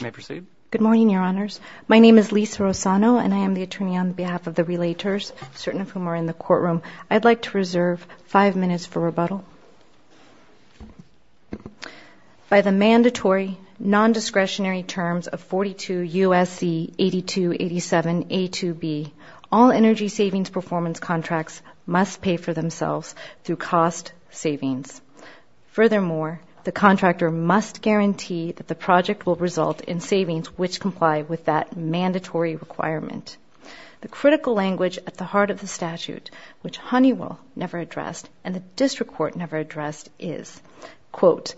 May I proceed? Good morning, Your Honors. My name is Lisa Rossano, and I am the attorney on behalf of the relators, certain of whom are in the courtroom. I'd like to reserve five minutes for rebuttal. By the mandatory non-discretionary terms of 42 U.S.C. 8287A2B, all energy savings performance contracts must pay for themselves through cost savings. Furthermore, the contractor must guarantee that the project will result in savings which comply with that mandatory requirement. The critical language at the heart of the statute, which Honeywell never addressed and the District Court never addressed, is, quote,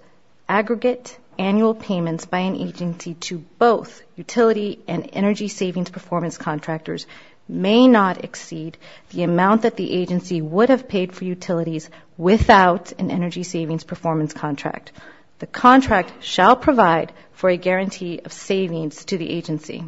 aggregate annual payments by an agency to both utility and energy savings performance contractors may not exceed the amount that the agency would have paid for utilities without an energy savings performance contract. The contract shall provide for a guarantee of savings to the agency.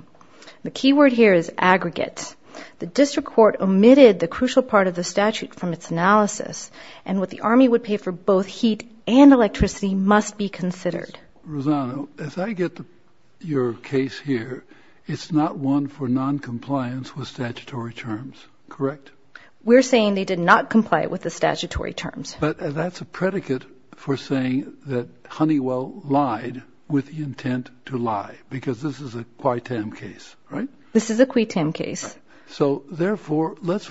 The key word here is aggregate. The District Court omitted the crucial part of the statute from its analysis, and what the Army would pay for both heat and electricity must be considered. Rosano, as I get your case here, it's not one for noncompliance with statutory terms, correct? We're saying they did not comply with the statutory terms. But that's a predicate for saying that Honeywell lied with the intent to lie, because this is a qui tam case, right? This is a qui tam case. So, therefore, let's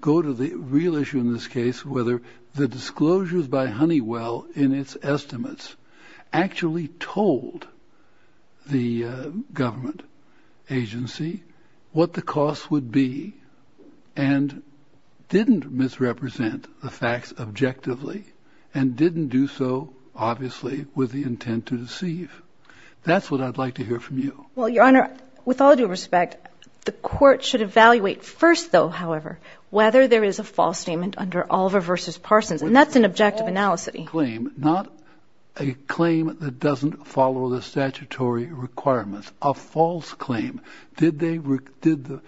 go to the real issue in this case, whether the disclosures by Honeywell in its estimates actually told the government agency what the costs would be and didn't misrepresent the facts objectively and didn't do so, obviously, with the intent to deceive. That's what I'd like to hear from you. Well, Your Honor, with all due respect, the court should evaluate first, though, however, whether there is a false statement under Oliver v. Parsons. And that's an objective analysis. Not a claim that doesn't follow the statutory requirements, a false claim. Did the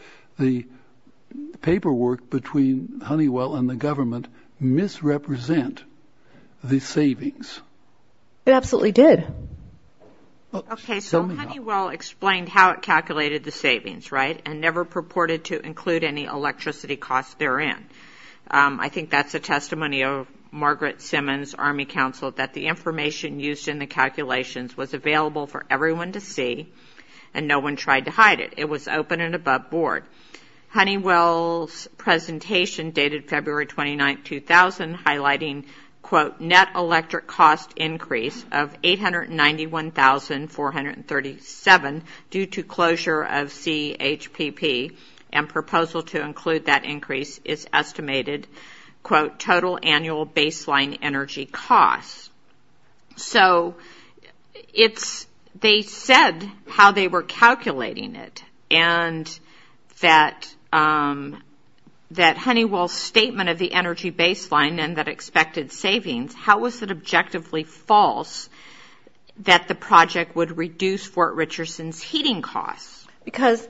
paperwork between Honeywell and the government misrepresent the savings? It absolutely did. Okay, so Honeywell explained how it calculated the savings, right, and never purported to include any electricity costs therein. I think that's a testimony of Margaret Simmons, Army Counsel, that the information used in the calculations was available for everyone to see and no one tried to hide it. It was open and above board. Honeywell's presentation dated February 29, 2000, highlighting, quote, net electric cost increase of $891,437 due to closure of CHPP and proposal to include that increase is estimated, quote, total annual baseline energy costs. So they said how they were calculating it and that Honeywell's statement of the energy baseline and that expected savings, how was it objectively false that the project would reduce Fort Richardson's heating costs? Because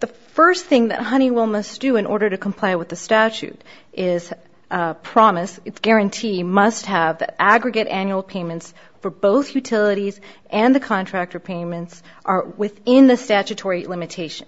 the first thing that Honeywell must do in order to comply with the statute is promise, guarantee, must have the aggregate annual payments for both utilities and the contractor payments are within the statutory limitation.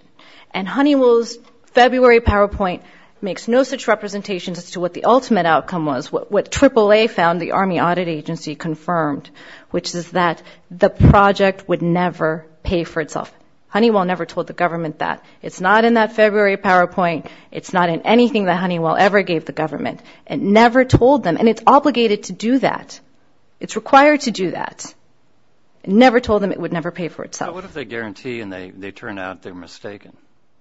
And Honeywell's February PowerPoint makes no such representations as to what the ultimate outcome was, what AAA found, the Army Audit Agency, confirmed, which is that the project would never pay for itself. Honeywell never told the government that. It's not in that February PowerPoint. It's not in anything that Honeywell ever gave the government. It never told them. And it's obligated to do that. It's required to do that. It never told them it would never pay for itself. But what if they guarantee and they turn out they're mistaken?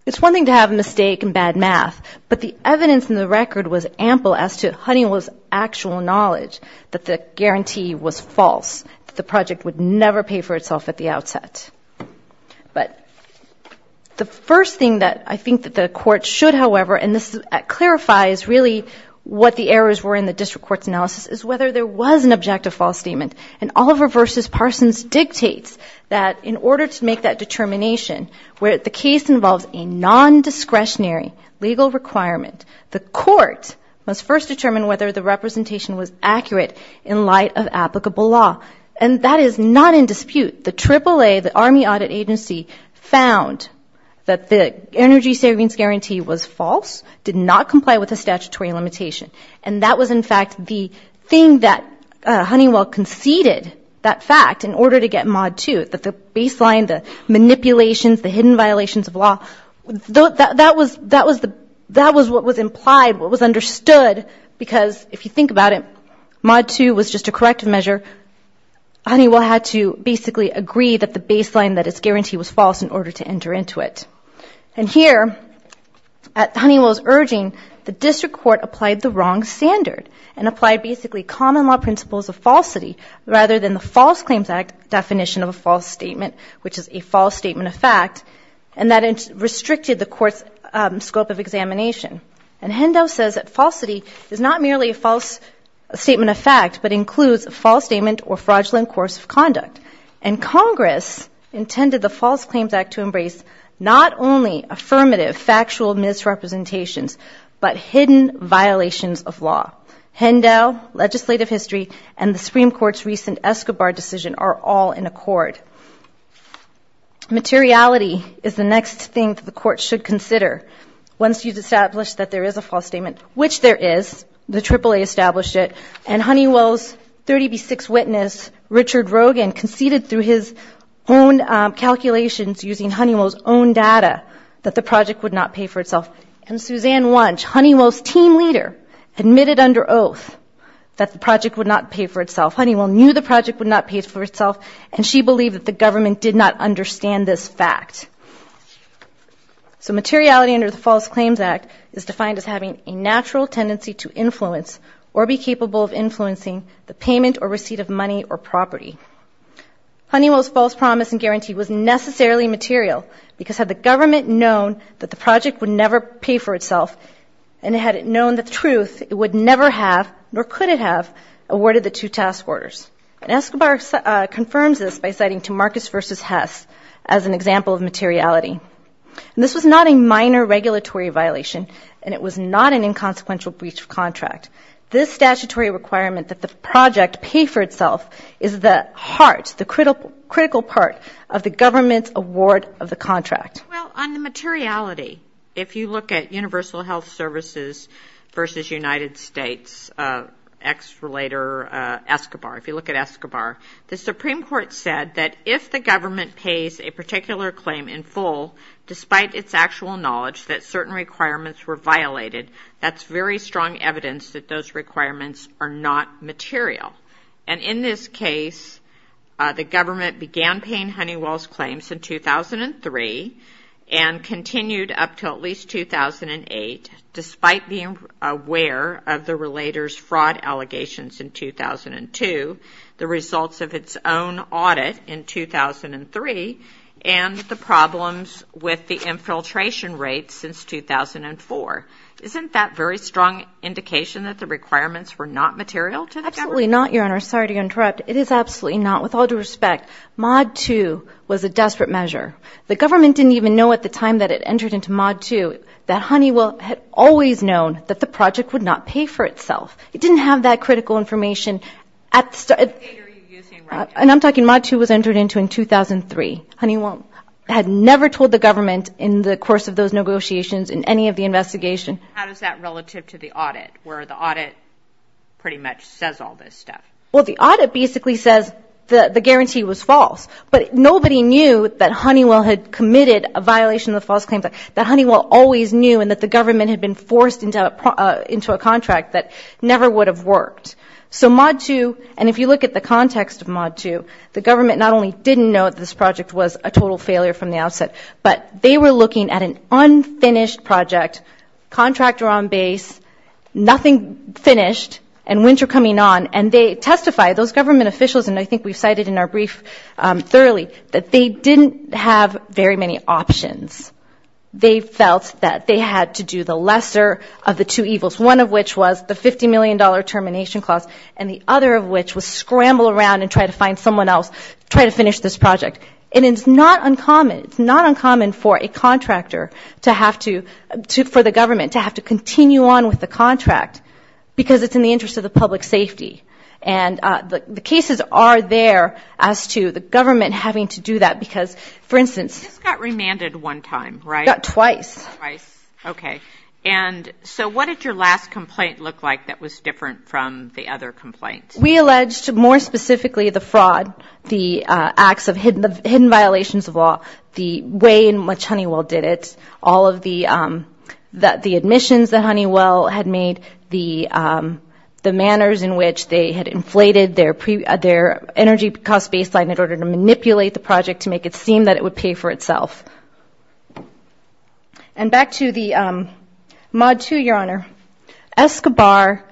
It's one thing to have a mistake and bad math, but the evidence in the record was ample as to Honeywell's actual knowledge that the guarantee was false, that the project would never pay for itself at the outset. But the first thing that I think that the court should, however, and this clarifies really what the errors were in the district court's analysis, is whether there was an objective false statement. And Oliver v. Parsons dictates that in order to make that determination, where the case involves a nondiscretionary legal requirement, the court must first determine whether the representation was accurate in light of applicable law. And that is not in dispute. The AAA, the Army Audit Agency, found that the energy savings guarantee was false, did not comply with the statutory limitation. And that was, in fact, the thing that Honeywell conceded that fact in order to get Mod 2, that the baseline, the manipulations, the hidden violations of law, that was what was implied, what was understood. Because if you think about it, Mod 2 was just a corrective measure. Honeywell had to basically agree that the baseline that is guaranteed was false in order to enter into it. And here, at Honeywell's urging, the district court applied the wrong standard and applied basically common law principles of falsity rather than the False Claims Act definition of a false statement, which is a false statement of fact, and that it restricted the court's scope of examination. And Hendo says that falsity is not merely a false statement of fact but includes a false statement or fraudulent course of conduct. And Congress intended the False Claims Act to embrace not only affirmative factual misrepresentations but hidden violations of law. Hendo, legislative history, and the Supreme Court's recent Escobar decision are all in accord. Materiality is the next thing that the court should consider. Once you've established that there is a false statement, which there is, the AAA established it, and Honeywell's 30B6 witness, Richard Rogan, conceded through his own calculations using Honeywell's own data that the project would not pay for itself. And Suzanne Wunsch, Honeywell's team leader, admitted under oath that the project would not pay for itself. Honeywell knew the project would not pay for itself, and she believed that the government did not understand this fact. So materiality under the False Claims Act is defined as having a natural tendency to influence or be capable of influencing the payment or receipt of money or property. Honeywell's false promise and guarantee was necessarily material because had the government known that the project would never pay for itself and had it known the truth, it would never have, nor could it have, awarded the two task orders. And Escobar confirms this by citing to Marcus v. Hess as an example of materiality. And this was not a minor regulatory violation, and it was not an inconsequential breach of contract. This statutory requirement that the project pay for itself is the heart, the critical part of the government's award of the contract. Well, on the materiality, if you look at Universal Health Services v. United States, ex-relator Escobar, if you look at Escobar, the Supreme Court said that if the government pays a particular claim in full, despite its actual knowledge that certain requirements were violated, that's very strong evidence that those requirements are not material. And in this case, the government began paying Honeywell's claims in 2003 and continued up to at least 2008, despite being aware of the relator's fraud allegations in 2002, the results of its own audit in 2003, and the problems with the infiltration rates since 2004. Isn't that very strong indication that the requirements were not material to the government? Absolutely not, Your Honor. Sorry to interrupt. It is absolutely not, with all due respect. Mod 2 was a desperate measure. The government didn't even know at the time that it entered into Mod 2 that Honeywell had always known that the project would not pay for itself. It didn't have that critical information at the start. And I'm talking Mod 2 was entered into in 2003. Honeywell had never told the government in the course of those negotiations in any of the investigation. How is that relative to the audit, where the audit pretty much says all this stuff? Well, the audit basically says the guarantee was false, but nobody knew that Honeywell had committed a violation of the false claims, that Honeywell always knew and that the government had been forced into a contract that never would have worked. So Mod 2, and if you look at the context of Mod 2, the government not only didn't know that this project was a total failure from the outset, but they were looking at an unfinished project, contractor on base, nothing finished, and winter coming on, and they testified, those government officials, and I think we've cited in our brief thoroughly, that they didn't have very many options. They felt that they had to do the lesser of the two evils, one of which was the $50 million termination clause, and the other of which was scramble around and try to find someone else, try to finish this project. And it's not uncommon, it's not uncommon for a contractor to have to, for the government, to have to continue on with the contract, because it's in the interest of the public safety. And the cases are there as to the government having to do that, because, for instance... This got remanded one time, right? Got twice. Twice, okay. And so what did your last complaint look like that was different from the other complaints? We alleged, more specifically, the fraud, the acts of hidden violations of law, the way in which Honeywell did it, all of the admissions that Honeywell had made, the manners in which they had inflated their energy cost baseline in order to manipulate the project to make it seem that it would pay for itself. And back to the Mod 2, Your Honor. Escobar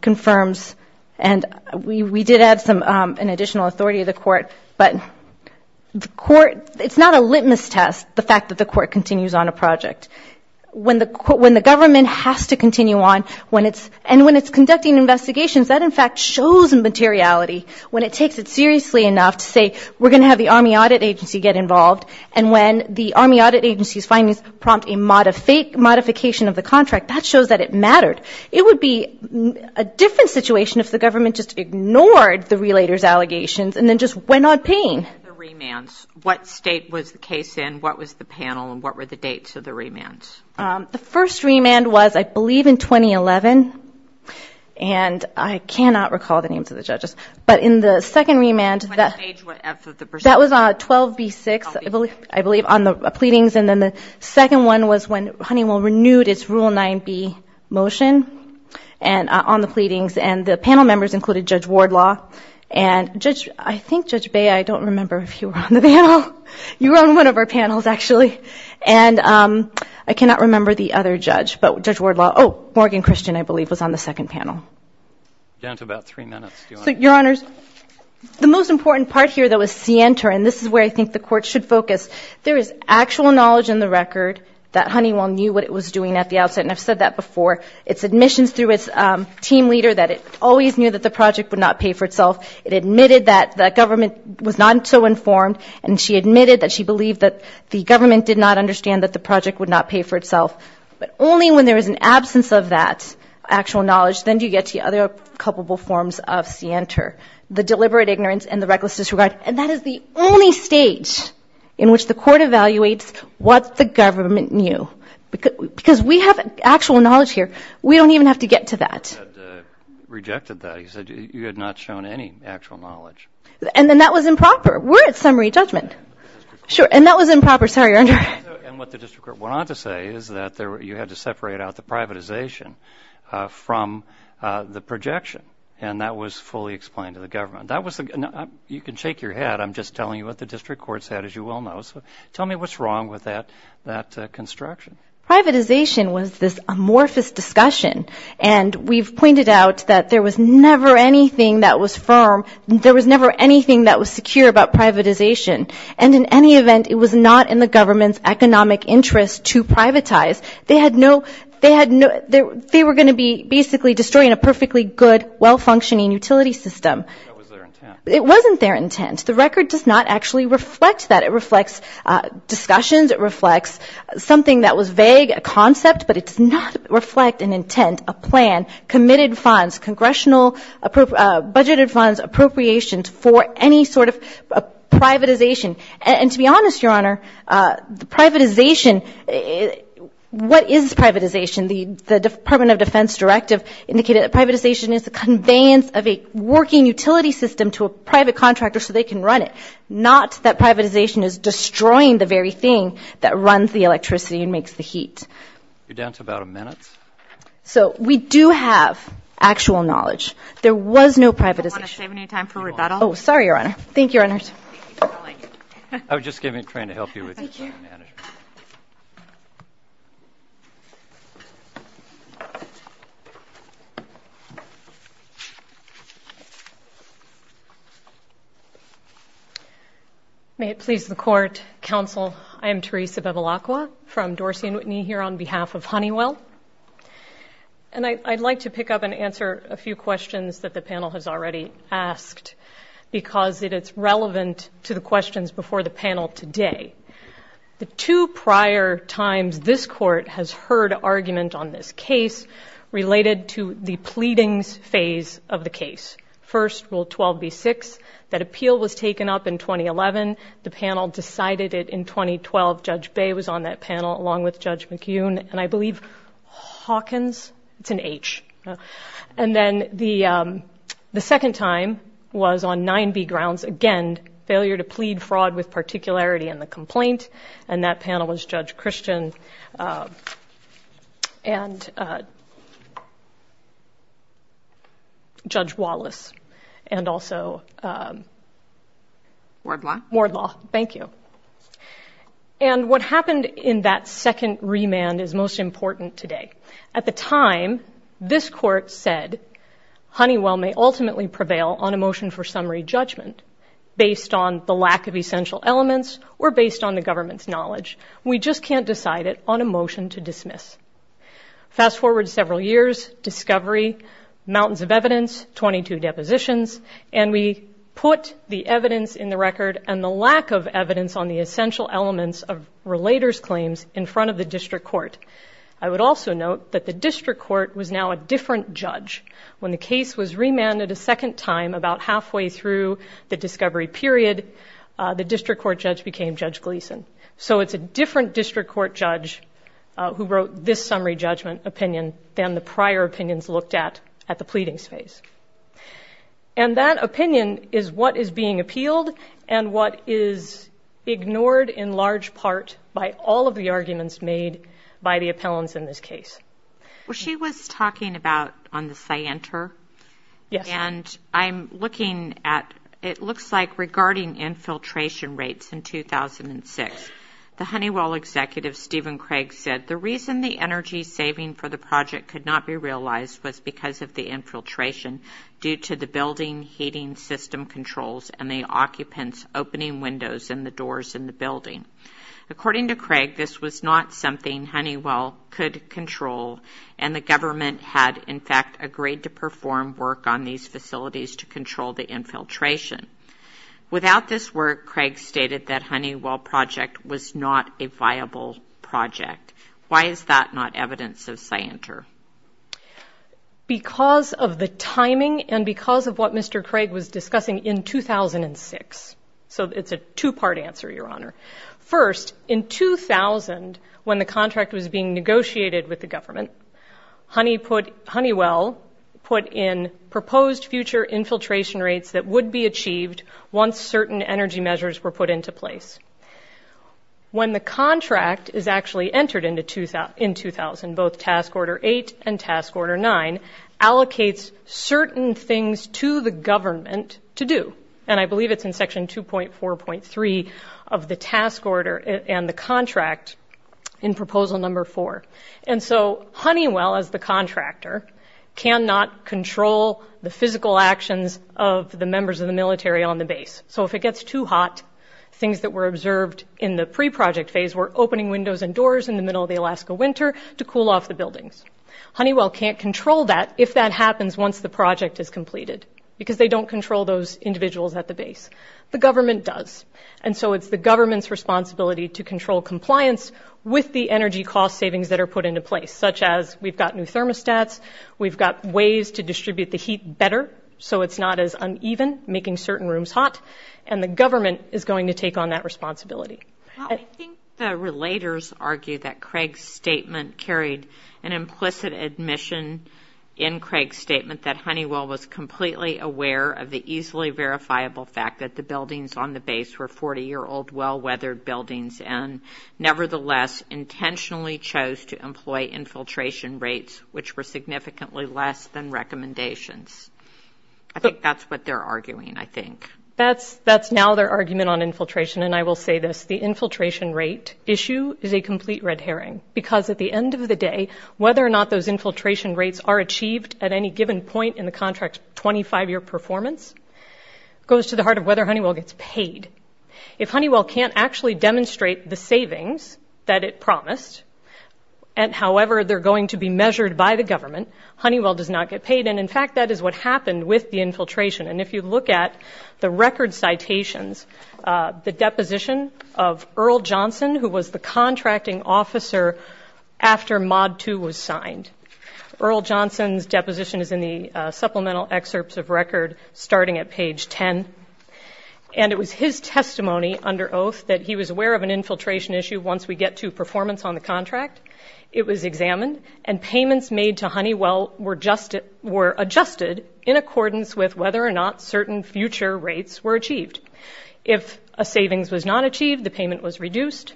confirms, and we did add an additional authority to the court, but the court, it's not a litmus test, the fact that the court continues on a project. When the government has to continue on, and when it's conducting investigations, that, in fact, shows immateriality, when it takes it seriously enough to say, we're going to have the Army Audit Agency get involved, and when the Army Audit Agency's findings prompt a modification of the contract, that shows that it mattered. It would be a different situation if the government just ignored the relator's allegations and then just went on paying. The remands, what state was the case in, what was the panel, and what were the dates of the remands? The first remand was, I believe, in 2011. And I cannot recall the names of the judges. But in the second remand, that was 12B6, I believe, on the pleadings. And then the second one was when Honeywell renewed its Rule 9B motion on the pleadings. And the panel members included Judge Wardlaw. And, Judge, I think, Judge Bea, I don't remember if you were on the panel. You were on one of our panels, actually. And I cannot remember the other judge, but Judge Wardlaw. Oh, Morgan Christian, I believe, was on the second panel. Down to about three minutes, Your Honor. So, Your Honors, the most important part here, though, is scienter. And this is where I think the Court should focus. There is actual knowledge in the record that Honeywell knew what it was doing at the outset. And I've said that before. Its admissions through its team leader, that it always knew that the project would not pay for itself. It admitted that the government was not so informed. And she admitted that she believed that the government did not understand that the project would not pay for itself. But only when there is an absence of that actual knowledge, then do you get to the other culpable forms of scienter, the deliberate ignorance and the reckless disregard. And that is the only stage in which the Court evaluates what the government knew. Because we have actual knowledge here. We don't even have to get to that. He had rejected that. He said you had not shown any actual knowledge. And then that was improper. We're at summary judgment. And that was improper. Sorry, Your Honor. And what the District Court went on to say is that you had to separate out the privatization from the projection. And that was fully explained to the government. That was the – you can shake your head. I'm just telling you what the District Court said, as you well know. So tell me what's wrong with that construction. Privatization was this amorphous discussion. And we've pointed out that there was never anything that was firm. There was never anything that was secure about privatization. And in any event, it was not in the government's economic interest to privatize. They had no – they were going to be basically destroying a perfectly good, well-functioning utility system. That was their intent. It wasn't their intent. The record does not actually reflect that. It reflects discussions. It reflects something that was vague, a concept. But it does not reflect an intent, a plan, committed funds, congressional – budgeted funds, appropriations for any sort of privatization. And to be honest, Your Honor, the privatization – what is privatization? The Department of Defense directive indicated that privatization is the conveyance of a working utility system to a private contractor so they can run it. Not that privatization is destroying the very thing that runs the electricity and makes the heat. You're down to about a minute. So we do have actual knowledge. There was no privatization. Do you want to save any time for rebuttal? Oh, sorry, Your Honor. Thank you, Your Honor. I was just giving – trying to help you with your time. Thank you. May it please the Court, Counsel, I am Teresa Bevilacqua from Dorsey & Whitney here on behalf of Honeywell. And I'd like to pick up and answer a few questions that the panel has already asked because it is relevant to the questions before the panel today. The two prior times this Court has heard argument on this case related to the pleadings phase of the case. First, Rule 12b-6, that appeal was taken up in 2011. The panel decided it in 2012. Judge Bay was on that panel along with Judge McEwen and I believe Hawkins. It's an H. And then the second time was on 9b grounds. Again, failure to plead fraud with particularity in the complaint. And that panel was Judge Christian and Judge Wallace. And also Wardlaw. Thank you. And what happened in that second remand is most important today. At the time, this Court said Honeywell may ultimately prevail on a motion for summary judgment based on the lack of essential elements or based on the government's knowledge. Fast forward several years, discovery, mountains of evidence, 22 depositions, and we put the evidence in the record and the lack of evidence on the essential elements of relator's claims in front of the district court. I would also note that the district court was now a different judge. When the case was remanded a second time about halfway through the discovery period, the district court judge became Judge Gleason. So it's a different district court judge who wrote this summary judgment opinion than the prior opinions looked at at the pleading space. And that opinion is what is being appealed and what is ignored in large part by all of the arguments made by the appellants in this case. Well, she was talking about on the Scienter. Yes. And I'm looking at it looks like regarding infiltration rates in 2006. The Honeywell executive, Stephen Craig, said the reason the energy saving for the project could not be realized was because of the infiltration due to the building heating system controls and the occupants opening windows in the doors in the building. According to Craig, this was not something Honeywell could control. And the government had, in fact, agreed to perform work on these facilities to control the infiltration. Without this work, Craig stated that Honeywell project was not a viable project. Why is that not evidence of Scienter? Because of the timing and because of what Mr. Craig was discussing in 2006. So it's a two-part answer, Your Honor. First, in 2000, when the contract was being negotiated with the government, Honeywell put in proposed future infiltration rates that would be achieved once certain energy measures were put into place. When the contract is actually entered into in 2000, both Task Order 8 and Task Order 9 allocates certain things to the government to do. And I believe it's in Section 2.4.3 of the task order and the contract in Proposal Number 4. And so Honeywell, as the contractor, cannot control the physical actions of the members of the military on the base. So if it gets too hot, things that were observed in the pre-project phase were opening windows and doors in the middle of the Alaska winter to cool off the buildings. Honeywell can't control that if that happens once the project is completed because they don't control those individuals at the base. The government does. And so it's the government's responsibility to control compliance with the energy cost savings that are put into place, such as we've got new thermostats, we've got ways to distribute the heat better so it's not as uneven, making certain rooms hot, and the government is going to take on that responsibility. I think the relators argue that Craig's statement carried an implicit admission in Craig's statement that Honeywell was completely aware of the easily verifiable fact that the buildings on the base were 40-year-old, well-weathered buildings and nevertheless intentionally chose to employ infiltration rates which were significantly less than recommendations. I think that's what they're arguing, I think. That's now their argument on infiltration, and I will say this. The infiltration rate issue is a complete red herring because at the end of the day, whether or not those infiltration rates are achieved at any given point in the contract's 25-year performance goes to the heart of whether Honeywell gets paid. If Honeywell can't actually demonstrate the savings that it promised, and however they're going to be measured by the government, Honeywell does not get paid. And, in fact, that is what happened with the infiltration. And if you look at the record citations, the deposition of Earl Johnson, who was the contracting officer after MoD II was signed. Earl Johnson's deposition is in the supplemental excerpts of record starting at page 10. And it was his testimony under oath that he was aware of an infiltration issue once we get to performance on the contract. It was examined, and payments made to Honeywell were adjusted in accordance with whether or not certain future rates were achieved. If a savings was not achieved, the payment was reduced.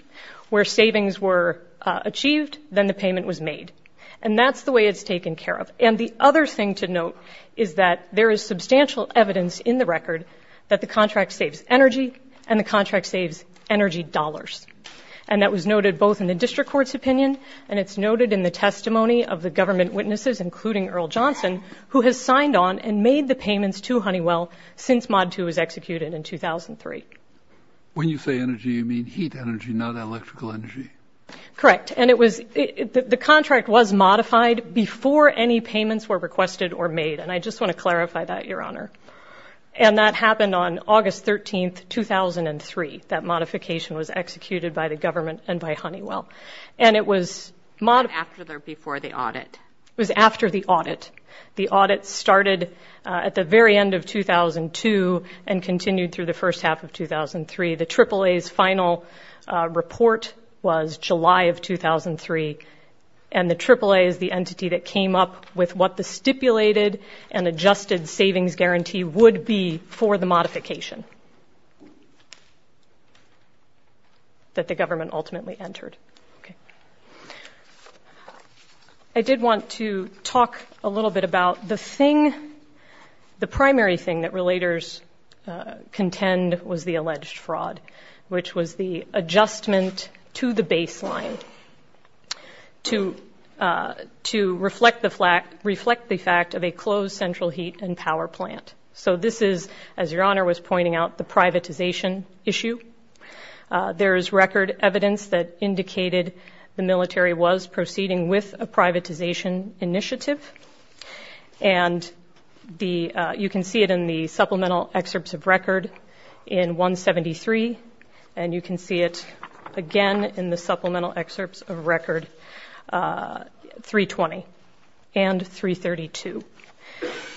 Where savings were achieved, then the payment was made. And that's the way it's taken care of. And the other thing to note is that there is substantial evidence in the record that the contract saves energy, and the contract saves energy dollars. And that was noted both in the district court's opinion, and it's noted in the testimony of the government witnesses, including Earl Johnson, who has signed on and made the payments to Honeywell since MoD II was executed in 2003. When you say energy, you mean heat energy, not electrical energy? Correct. And the contract was modified before any payments were requested or made. And I just want to clarify that, Your Honor. And that happened on August 13, 2003. That modification was executed by the government and by Honeywell. And it was MoD II. After or before the audit? It was after the audit. The audit started at the very end of 2002 and continued through the first half of 2003. The AAA's final report was July of 2003, and the AAA is the entity that came up with what the stipulated and adjusted savings guarantee would be for the modification that the government ultimately entered. Okay. I did want to talk a little bit about the thing, the primary thing that relators contend was the alleged fraud, which was the adjustment to the baseline to reflect the fact of a closed central heat and power plant. So this is, as Your Honor was pointing out, the privatization issue. There is record evidence that indicated the military was proceeding with a privatization initiative. And you can see it in the supplemental excerpts of record in 173, and you can see it again in the supplemental excerpts of record 320 and 332.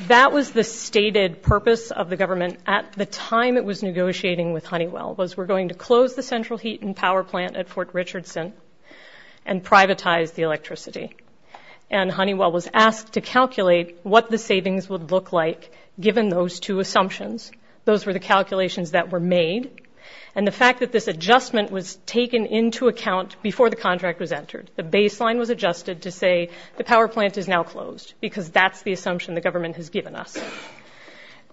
That was the stated purpose of the government at the time it was negotiating with Honeywell, was we're going to close the central heat and power plant at Fort Richardson and privatize the electricity. And Honeywell was asked to calculate what the savings would look like given those two assumptions. Those were the calculations that were made, and the fact that this adjustment was taken into account before the contract was entered. The baseline was adjusted to say the power plant is now closed because that's the assumption the government has given us.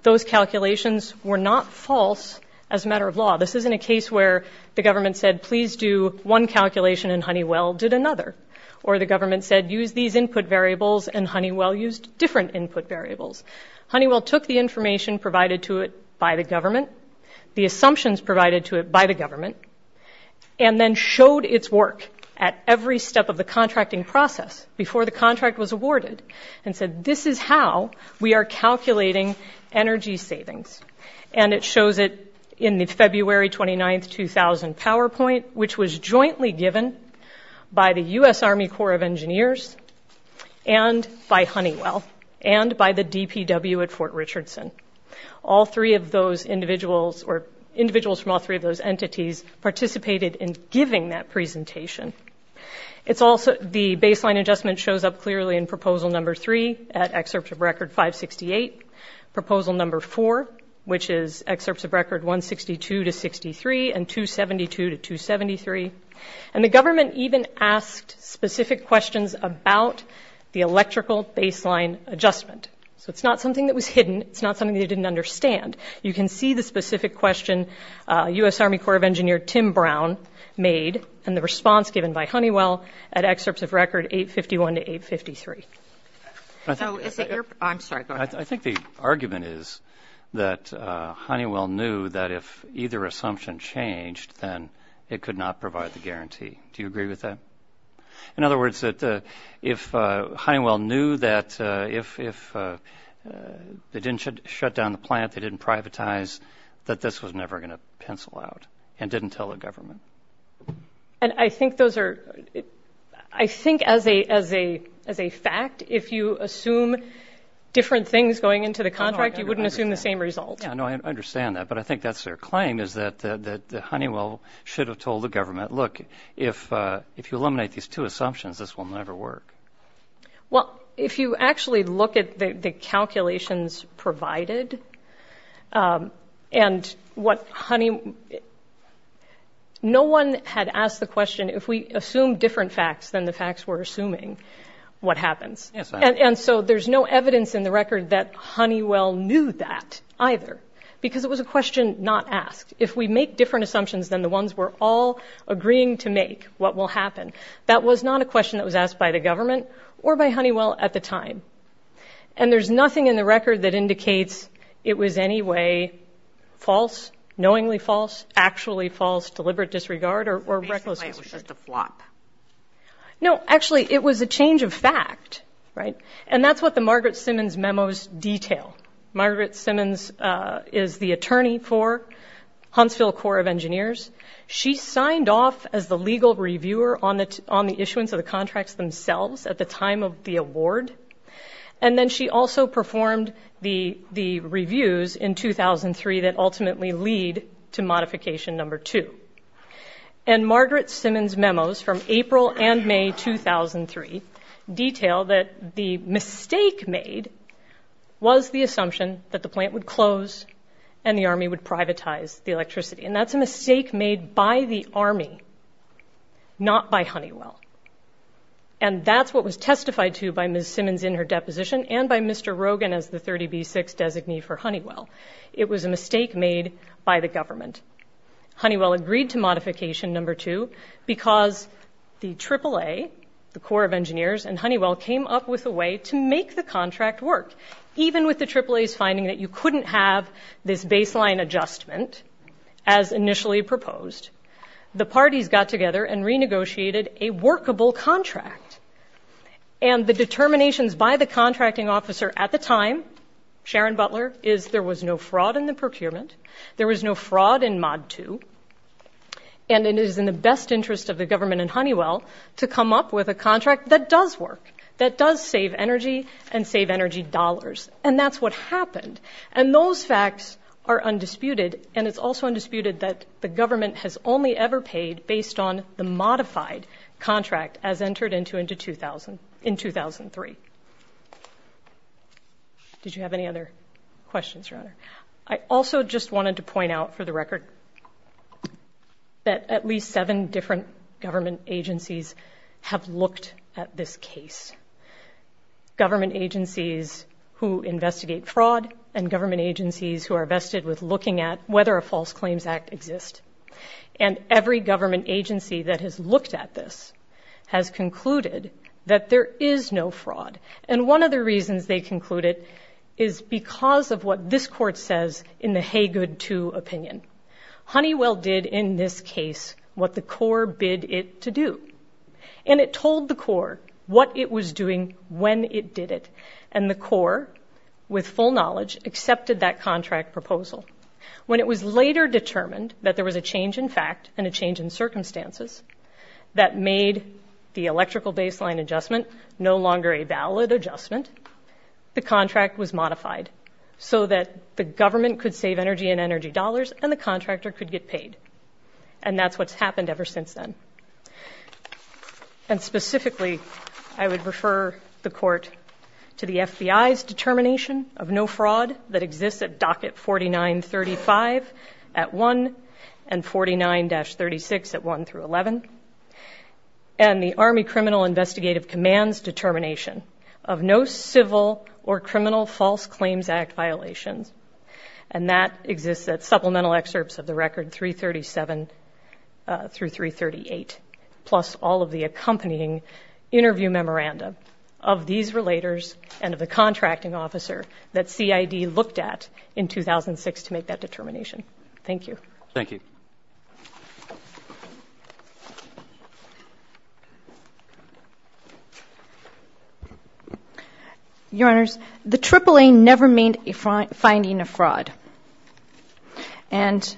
Those calculations were not false as a matter of law. This isn't a case where the government said please do one calculation and Honeywell did another, or the government said use these input variables and Honeywell used different input variables. Honeywell took the information provided to it by the government, the assumptions provided to it by the government, and then showed its work at every step of the contracting process before the contract was awarded and said this is how we are calculating energy savings. And it shows it in the February 29, 2000 PowerPoint, which was jointly given by the U.S. Army Corps of Engineers and by Honeywell and by the DPW at Fort Richardson. All three of those individuals or individuals from all three of those entities participated in giving that presentation. The baseline adjustment shows up clearly in proposal number three at excerpt of record 568, proposal number four, which is excerpts of record 162 to 63 and 272 to 273. And the government even asked specific questions about the electrical baseline adjustment. So it's not something that was hidden. It's not something they didn't understand. You can see the specific question U.S. Army Corps of Engineers Tim Brown made and the response given by Honeywell at excerpts of record 851 to 853. I think the argument is that Honeywell knew that if either assumption changed, then it could not provide the guarantee. Do you agree with that? In other words, if Honeywell knew that if they didn't shut down the plant, they didn't privatize, that this was never going to pencil out and didn't tell the government. I think as a fact, if you assume different things going into the contract, you wouldn't assume the same result. I understand that. But I think that's their claim is that Honeywell should have told the government, look, if you eliminate these two assumptions, this will never work. Well, if you actually look at the calculations provided and what Honeywell – no one had asked the question, if we assume different facts than the facts we're assuming, what happens? And so there's no evidence in the record that Honeywell knew that either because it was a question not asked. If we make different assumptions than the ones we're all agreeing to make, what will happen? That was not a question that was asked by the government or by Honeywell at the time. And there's nothing in the record that indicates it was any way false, knowingly false, actually false, deliberate disregard, or recklessness. Basically, it was just a flop. No, actually, it was a change of fact, right? And that's what the Margaret Simmons memo's detail. Margaret Simmons is the attorney for Huntsville Corps of Engineers. She signed off as the legal reviewer on the issuance of the contracts themselves at the time of the award. And then she also performed the reviews in 2003 that ultimately lead to modification number two. And Margaret Simmons' memos from April and May 2003 detail that the mistake made was the assumption that the plant would close and the Army would privatize the electricity. And that's a mistake made by the Army, not by Honeywell. And that's what was testified to by Ms. Simmons in her deposition and by Mr. Rogan as the 30B6 designee for Honeywell. It was a mistake made by the government. Honeywell agreed to modification number two because the AAA, the Corps of Engineers, and Honeywell came up with a way to make the contract work, even with the AAA's finding that you couldn't have this baseline adjustment as initially proposed. The parties got together and renegotiated a workable contract. And the determinations by the contracting officer at the time, Sharon Butler, is there was no fraud in the procurement, there was no fraud in mod two, and it is in the best interest of the government and Honeywell to come up with a contract that does work, that does save energy and save energy dollars. And that's what happened. And those facts are undisputed, and it's also undisputed that the government has only ever paid based on the modified contract as entered into in 2003. Did you have any other questions, Your Honor? I also just wanted to point out for the record that at least seven different government agencies have looked at this case, government agencies who investigate fraud and government agencies who are vested with looking at whether a false claims act exists. And every government agency that has looked at this has concluded that there is no fraud. And one of the reasons they concluded is because of what this court says in the Haygood II opinion. Honeywell did in this case what the Corps bid it to do. And it told the Corps what it was doing when it did it. And the Corps, with full knowledge, accepted that contract proposal. When it was later determined that there was a change in fact and a change in circumstances that made the electrical baseline adjustment no longer a valid adjustment, the contract was modified so that the government could save energy and energy dollars and the contractor could get paid. And that's what's happened ever since then. And specifically, I would refer the court to the FBI's determination of no fraud that exists at docket 4935 at 1 and 49-36 at 1 through 11, and the Army Criminal Investigative Command's determination of no civil or criminal false claims act violations. And that exists at supplemental excerpts of the record 337 through 338, plus all of the accompanying interview memorandum of these relators and of the contracting officer that CID looked at in 2006 to make that determination. Thank you. Thank you. Your Honors, the AAA never made a finding of fraud. And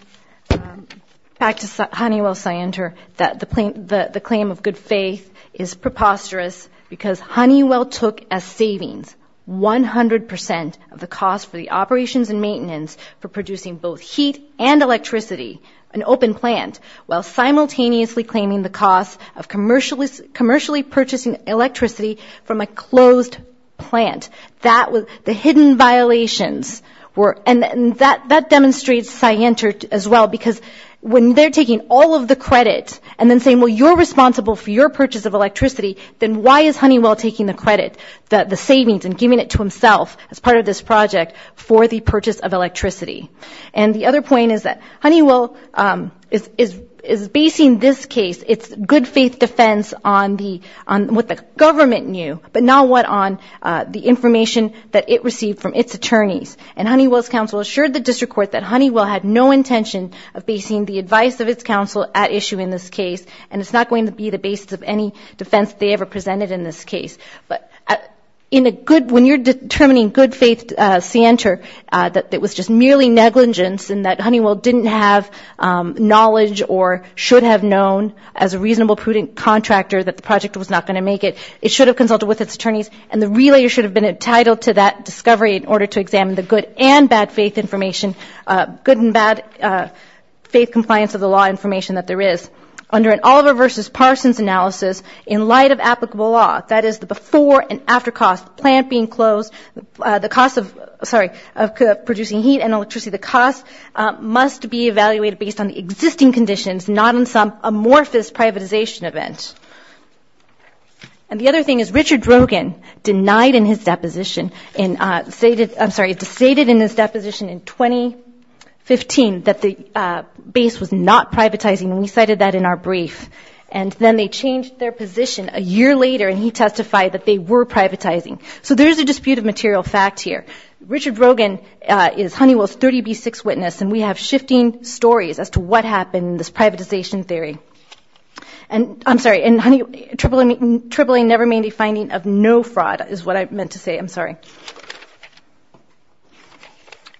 back to Honeywell-Scienter, that the claim of good faith is preposterous because Honeywell took as savings 100% of the cost for the operations and maintenance for producing both heat and electricity, an open plant, while simultaneously claiming the cost of commercially purchasing electricity from a closed plant. The hidden violations were, and that demonstrates Scienter as well, because when they're taking all of the credit and then saying, well, you're responsible for your purchase of electricity, then why is Honeywell taking the credit, the savings, and giving it to himself as part of this project for the purchase of electricity? And the other point is that Honeywell is basing this case, its good faith defense on what the government knew, but not what on the information that it received from its attorneys. And Honeywell's counsel assured the district court that Honeywell had no intention of basing the advice of its counsel at issue in this case, and it's not going to be the basis of any defense they ever presented in this case. But when you're determining good faith, Scienter, that it was just merely negligence and that Honeywell didn't have knowledge or should have known as a reasonable, prudent contractor that the project was not going to make it, it should have consulted with its attorneys, and the relayer should have been entitled to that discovery in order to examine the good and bad faith information, good and bad faith compliance of the law information that there is. Under an Oliver v. Parsons analysis, in light of applicable law, that is the before and after cost, the plant being closed, the cost of producing heat and electricity, the cost must be evaluated based on the existing conditions, not on some amorphous privatization event. And the other thing is Richard Rogin denied in his deposition, I'm sorry, stated in his deposition in 2015 that the base was not privatizing, and we cited that in our brief. And then they changed their position a year later, and he testified that they were privatizing. So there is a dispute of material fact here. Richard Rogin is Honeywell's 30B6 witness, and we have shifting stories as to what happened in this privatization theory. And I'm sorry, triple A never made a finding of no fraud is what I meant to say. I'm sorry.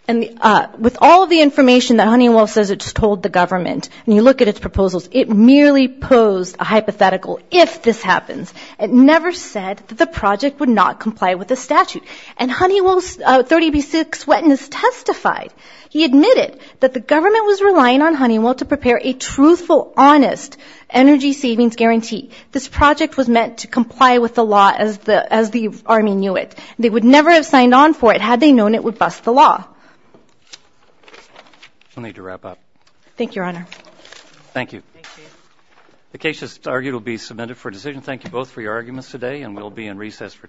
And with all of the information that Honeywell says it's told the government, and you look at its proposals, it merely posed a hypothetical if this happens. It never said that the project would not comply with the statute. And Honeywell's 30B6 witness testified. He admitted that the government was relying on Honeywell to prepare a truthful, honest energy savings guarantee. This project was meant to comply with the law as the Army knew it. They would never have signed on for it had they known it would bust the law. We'll need to wrap up. Thank you, Your Honor. Thank you. The case is argued to be submitted for decision. Thank you both for your arguments today, and we'll be in recess for 10 minutes.